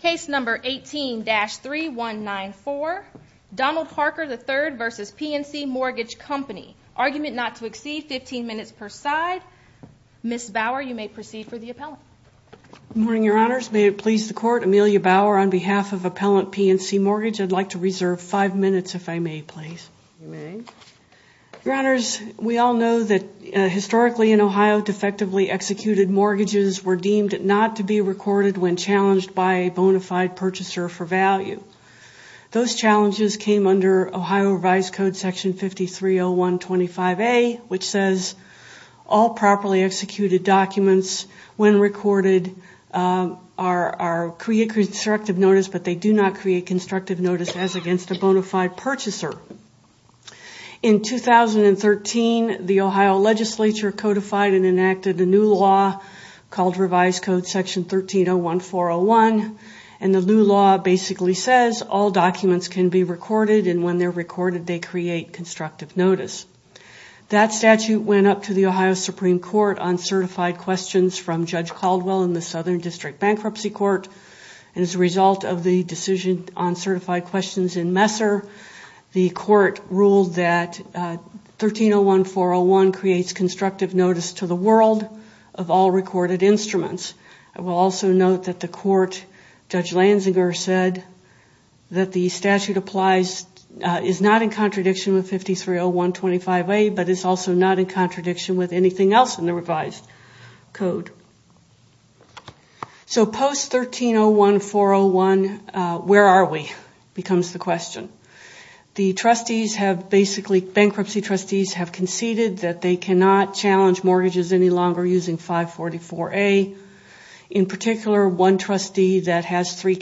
Case number 18-3194, Donald Harker III v. PNC Mortgage Company. Argument not to exceed 15 minutes per side. Ms. Bauer, you may proceed for the appellant. Good morning, Your Honors. May it please the Court, Amelia Bauer on behalf of Appellant PNC Mortgage. I'd like to reserve five minutes, if I may, please. You may. Your Honors, we all know that historically in Ohio, defectively executed mortgages were deemed not to be recorded when challenged by a bona fide purchaser for value. Those challenges came under Ohio Revised Code Section 5301.25a, which says all properly executed documents when recorded create constructive notice, but they do not create constructive notice as against a bona fide purchaser. In 2013, the Ohio Legislature codified and enacted a new law called Revised Code Section 1301.401, and the new law basically says all documents can be recorded, and when they're recorded, they create constructive notice. That statute went up to the Ohio Supreme Court on certified questions from Judge Caldwell in the Southern District Bankruptcy Court, and as a result of the decision on certified questions in Messer, the Court ruled that 1301.401 creates constructive notice to the world of all recorded instruments. I will also note that the Court, Judge Lanzinger said that the statute applies, is not in contradiction with 5301.25a, but it's also not in contradiction with anything else in the revised code. So post 1301.401, where are we, becomes the question. The trustees have basically, bankruptcy trustees, have conceded that they cannot challenge mortgages any longer using 544a. In particular, one trustee that has three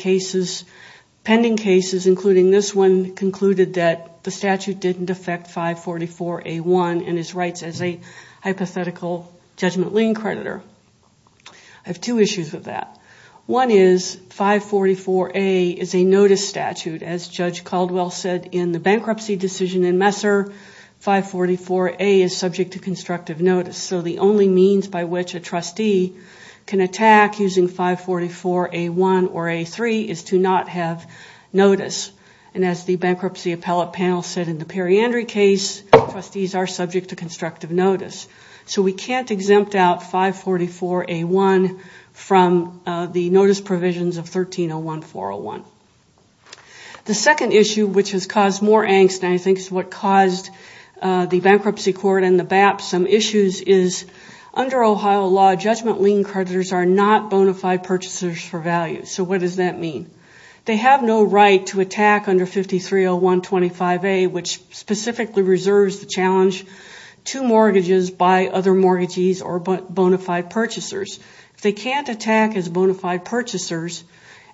pending cases, including this one, concluded that the statute didn't affect 544a.1 and his rights as a hypothetical judgment lien creditor. I have two issues with that. One is 544a is a notice statute. As Judge Caldwell said in the bankruptcy decision in Messer, 544a is subject to constructive notice. So the only means by which a trustee can attack using 544a.1 or a.3 is to not have notice. And as the bankruptcy appellate panel said in the periandry case, trustees are subject to constructive notice. So we can't exempt out 544a.1 from the notice provisions of 1301.401. The second issue, which has caused more angst, and I think is what caused the bankruptcy court and the BAP some issues, is under Ohio law, judgment lien creditors are not bona fide purchasers for value. So what does that mean? They have no right to attack under 5301.25a, which specifically reserves the challenge to mortgages by other mortgages or bona fide purchasers. If they can't attack as bona fide purchasers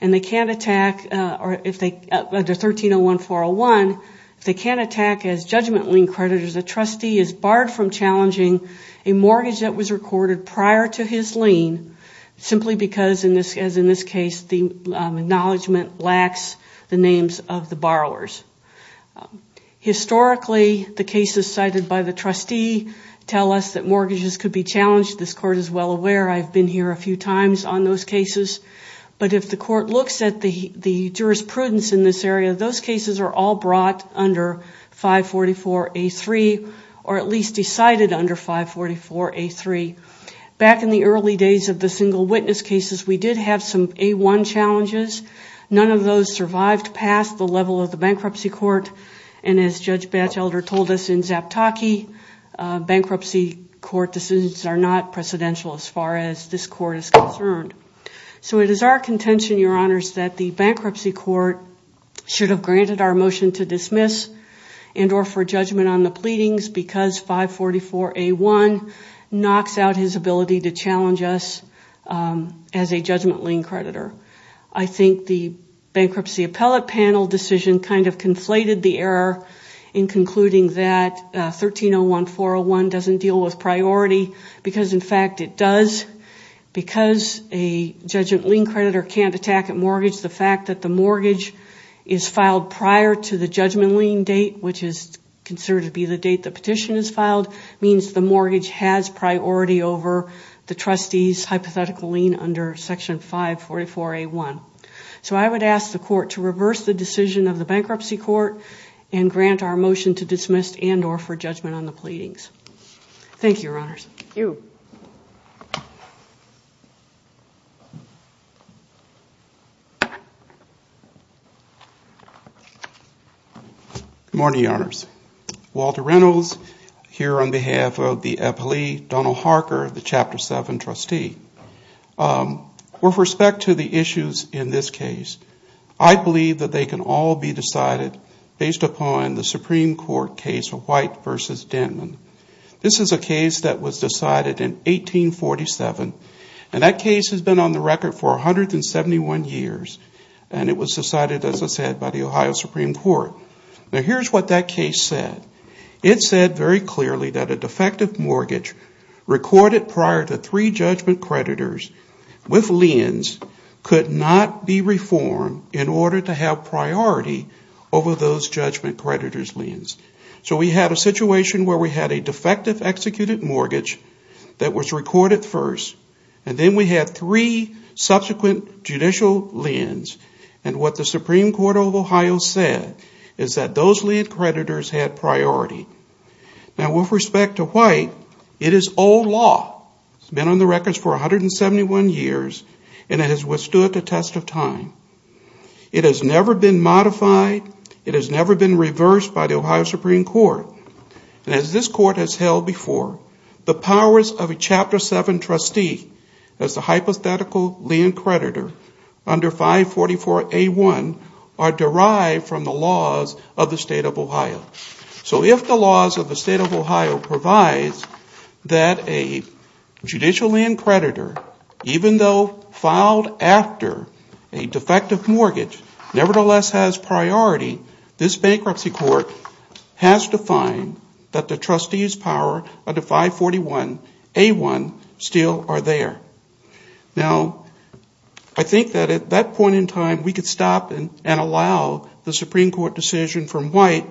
under 1301.401, if they can't attack as judgment lien creditors, a trustee is barred from challenging a mortgage that was recorded prior to his lien, simply because, as in this case, the acknowledgement lacks the names of the borrowers. Historically, the cases cited by the trustee tell us that mortgages could be challenged. This court is well aware. I've been here a few times on those cases. But if the court looks at the jurisprudence in this area, those cases are all brought under 544a.3 or at least decided under 544a.3. Back in the early days of the single witness cases, we did have some A-1 challenges. None of those survived past the level of the bankruptcy court. And as Judge Batchelder told us in Zaptocki, bankruptcy court decisions are not precedential as far as this court is concerned. So it is our contention, Your Honors, and or for judgment on the pleadings, because 544a.1 knocks out his ability to challenge us as a judgment lien creditor. I think the bankruptcy appellate panel decision kind of conflated the error in concluding that 1301.401 doesn't deal with priority because, in fact, it does. Because a judgment lien creditor can't attack a mortgage, the fact that the mortgage is filed prior to the judgment lien date, which is considered to be the date the petition is filed, means the mortgage has priority over the trustee's hypothetical lien under Section 544a.1. So I would ask the court to reverse the decision of the bankruptcy court and grant our motion to dismiss and or for judgment on the pleadings. Thank you, Your Honors. Thank you. Good morning, Your Honors. Walter Reynolds here on behalf of the appellee, Donald Harker, the Chapter 7 trustee. With respect to the issues in this case, I believe that they can all be decided based upon the Supreme Court case of White v. Dentman. This is a case that was decided in 1847, and that case has been on the record for 171 years, and it was decided, as I said, by the Ohio Supreme Court. Now, here's what that case said. It said very clearly that a defective mortgage recorded prior to three judgment creditors with liens could not be reformed in order to have priority over those judgment creditors' liens. So we had a situation where we had a defective executed mortgage that was recorded first, and then we had three subsequent judicial liens, and what the Supreme Court of Ohio said is that those lien creditors had priority. Now, with respect to White, it is old law. It's been on the record for 171 years, and it has withstood the test of time. It has never been modified. It has never been reversed by the Ohio Supreme Court. And as this court has held before, the powers of a Chapter 7 trustee as the hypothetical lien creditor under 544A1 are derived from the laws of the State of Ohio. So if the laws of the State of Ohio provide that a judicial lien creditor, even though filed after a defective mortgage, nevertheless has priority, this bankruptcy court has to find that the trustees' power under 541A1 still are there. Now, I think that at that point in time, we could stop and allow the Supreme Court decision from White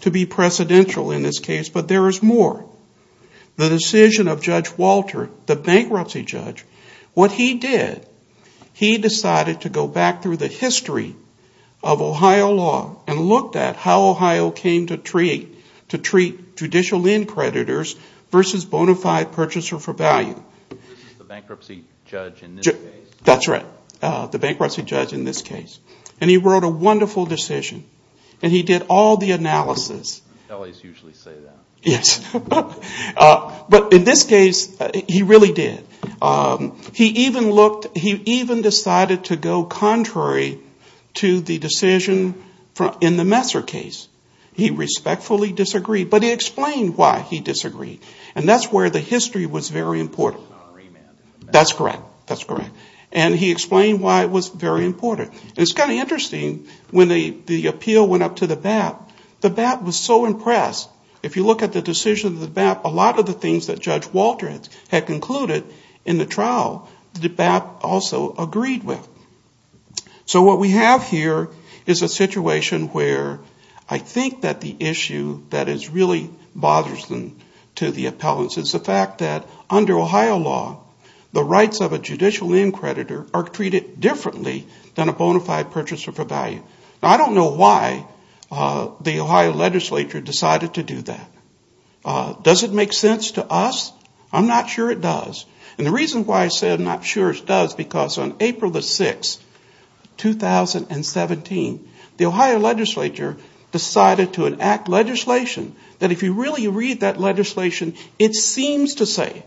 to be precedential in this case, but there is more. The decision of Judge Walter, the bankruptcy judge, what he did, he decided to go back through the history of Ohio law and looked at how Ohio came to treat judicial lien creditors versus bona fide purchaser for value. The bankruptcy judge in this case? That's right. The bankruptcy judge in this case. And he wrote a wonderful decision, and he did all the analysis. Yes. But in this case, he really did. He even looked, he even decided to go contrary to the decision in the Messer case. He respectfully disagreed, but he explained why he disagreed, and that's where the history was very important. That's correct. That's correct. And he explained why it was very important. And it's kind of interesting, when the appeal went up to the BAP, the BAP was so impressed. If you look at the decision of the BAP, a lot of the things that Judge Walter had concluded in the trial, the BAP also agreed with. So what we have here is a situation where I think that the issue that really bothers them to the appellants is the fact that under Ohio law, the rights of a judicial end creditor are treated differently than a bona fide purchaser for value. Now, I don't know why the Ohio legislature decided to do that. Does it make sense to us? I'm not sure it does. And the reason why I said I'm not sure it does is because on April the 6th, 2017, the Ohio legislature decided to enact legislation that if you really read that legislation, it seems to say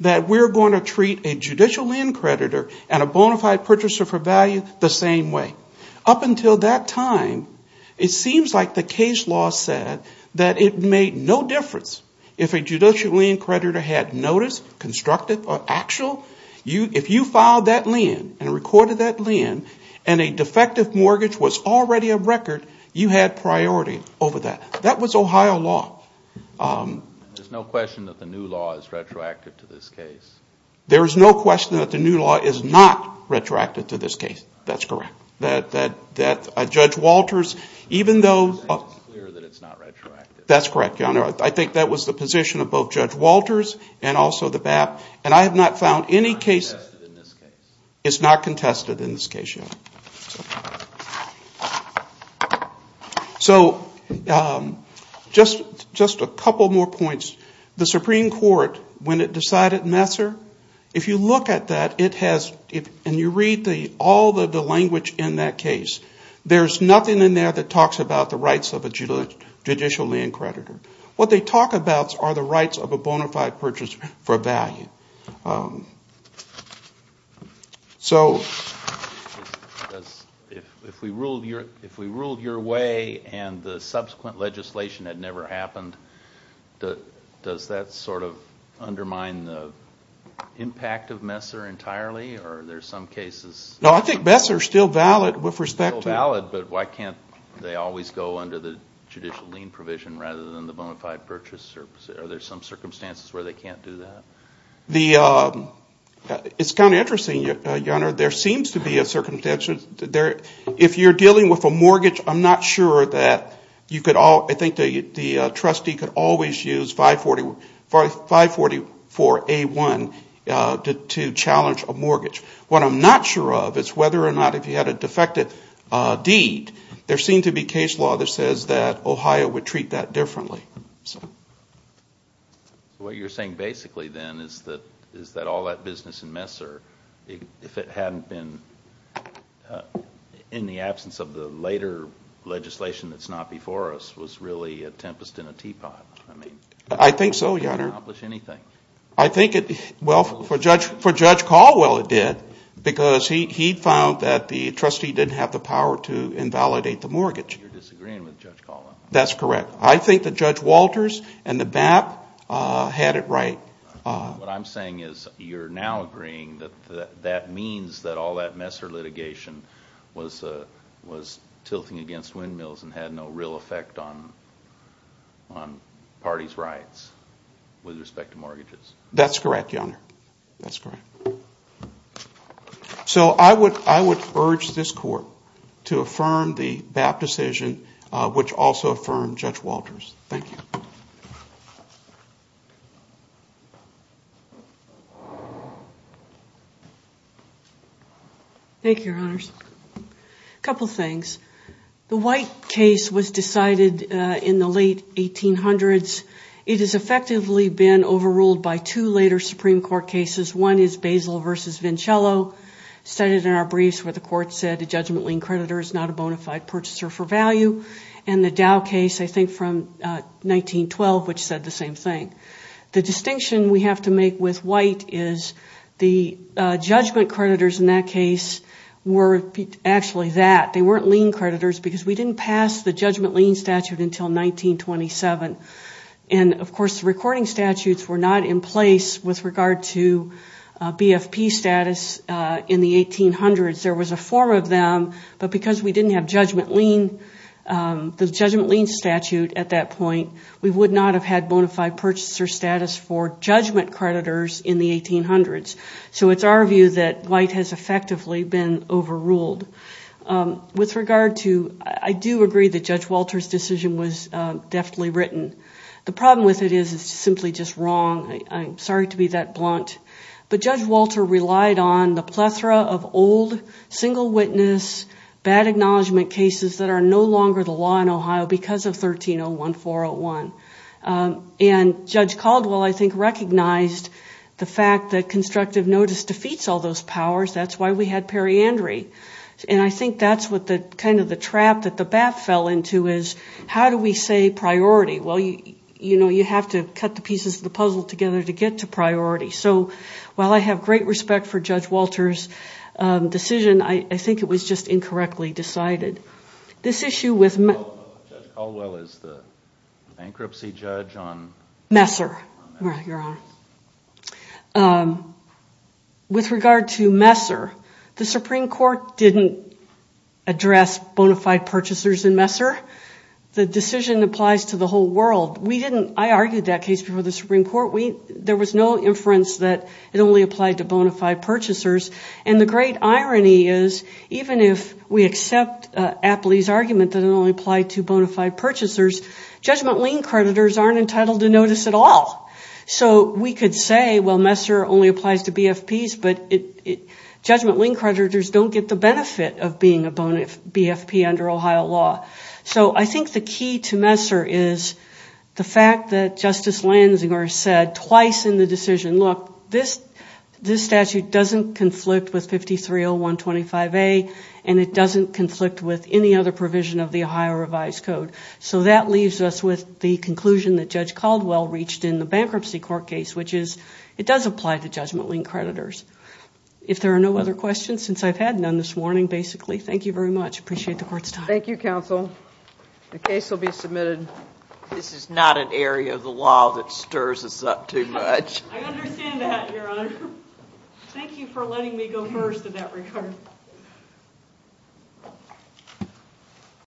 that we're going to treat a judicial end creditor and a bona fide purchaser for value the same way. Up until that time, it seems like the case law said that it made no difference if a judicial end creditor had notice, constructive or actual. If you filed that lien and recorded that lien and a defective mortgage was already a record, you had priority over that. That was Ohio law. There's no question that the new law is retroactive to this case. There is no question that the new law is not retroactive to this case. That's correct. Judge Walters, even though – It's clear that it's not retroactive. That's correct, Your Honor. I think that was the position of both Judge Walters and also the BAP. And I have not found any case – It's not contested in this case. It's not contested in this case, Your Honor. So just a couple more points. The Supreme Court, when it decided Messer, if you look at that, it has – and you read all of the language in that case, there's nothing in there that talks about the rights of a judicial lien creditor. What they talk about are the rights of a bona fide purchaser for value. So – If we ruled your way and the subsequent legislation had never happened, does that sort of undermine the impact of Messer entirely, or are there some cases – No, I think Messer is still valid with respect to – Still valid, but why can't they always go under the judicial lien provision rather than the bona fide purchaser? Are there some circumstances where they can't do that? It's kind of interesting, Your Honor. There seems to be a – If you're dealing with a mortgage, I'm not sure that you could – I think the trustee could always use 544A1 to challenge a mortgage. What I'm not sure of is whether or not if you had a defective deed, there seemed to be case law that says that Ohio would treat that differently. What you're saying basically then is that all that business in Messer, if it hadn't been in the absence of the later legislation that's not before us, was really a tempest in a teapot. I think so, Your Honor. It wouldn't accomplish anything. I think it – well, for Judge Caldwell it did because he found that the trustee didn't have the power to invalidate the mortgage. You're disagreeing with Judge Caldwell. That's correct. I think that Judge Walters and the BAP had it right. What I'm saying is you're now agreeing that that means that all that Messer litigation was tilting against windmills and had no real effect on parties' rights with respect to mortgages. That's correct, Your Honor. That's correct. So I would urge this Court to affirm the BAP decision, which also affirmed Judge Walters. Thank you. Thank you, Your Honors. A couple things. The White case was decided in the late 1800s. It has effectively been overruled by two later Supreme Court cases. One is Basil v. Vincello, cited in our briefs where the Court said a judgment lien creditor is not a bona fide purchaser for value, and the Dow case, I think, from 1912, which said the same thing. The distinction we have to make with White is the judgment creditors in that case were actually that. We didn't pass the judgment lien statute until 1927, and of course the recording statutes were not in place with regard to BFP status in the 1800s. There was a form of them, but because we didn't have the judgment lien statute at that point, we would not have had bona fide purchaser status for judgment creditors in the 1800s. So it's our view that White has effectively been overruled. With regard to, I do agree that Judge Walter's decision was deftly written. The problem with it is it's simply just wrong. I'm sorry to be that blunt. But Judge Walter relied on the plethora of old, single witness, bad acknowledgement cases that are no longer the law in Ohio because of 1301-401. And Judge Caldwell, I think, recognized the fact that constructive notice defeats all those powers. That's why we had periandery. And I think that's what kind of the trap that the bat fell into is how do we say priority? Well, you know, you have to cut the pieces of the puzzle together to get to priority. So while I have great respect for Judge Walter's decision, I think it was just incorrectly decided. This issue with... Judge Caldwell is the bankruptcy judge on... Messer, Your Honor. With regard to Messer, the Supreme Court didn't address bona fide purchasers in Messer. The decision applies to the whole world. I argued that case before the Supreme Court. There was no inference that it only applied to bona fide purchasers. And the great irony is even if we accept Apley's argument that it only applied to bona fide purchasers, judgment lien creditors aren't entitled to notice at all. So we could say, well, Messer only applies to BFPs, but judgment lien creditors don't get the benefit of being a BFP under Ohio law. So I think the key to Messer is the fact that Justice Lansing said twice in the decision, look, this statute doesn't conflict with 530125A and it doesn't conflict with any other provision of the Ohio revised code. So that leaves us with the conclusion that Judge Caldwell reached in the bankruptcy court case, which is it does apply to judgment lien creditors. If there are no other questions, since I've had none this morning, basically, thank you very much. Appreciate the court's time. Thank you, counsel. The case will be submitted. This is not an area of the law that stirs us up too much. I understand that, Your Honor. Thank you for letting me go first in that regard.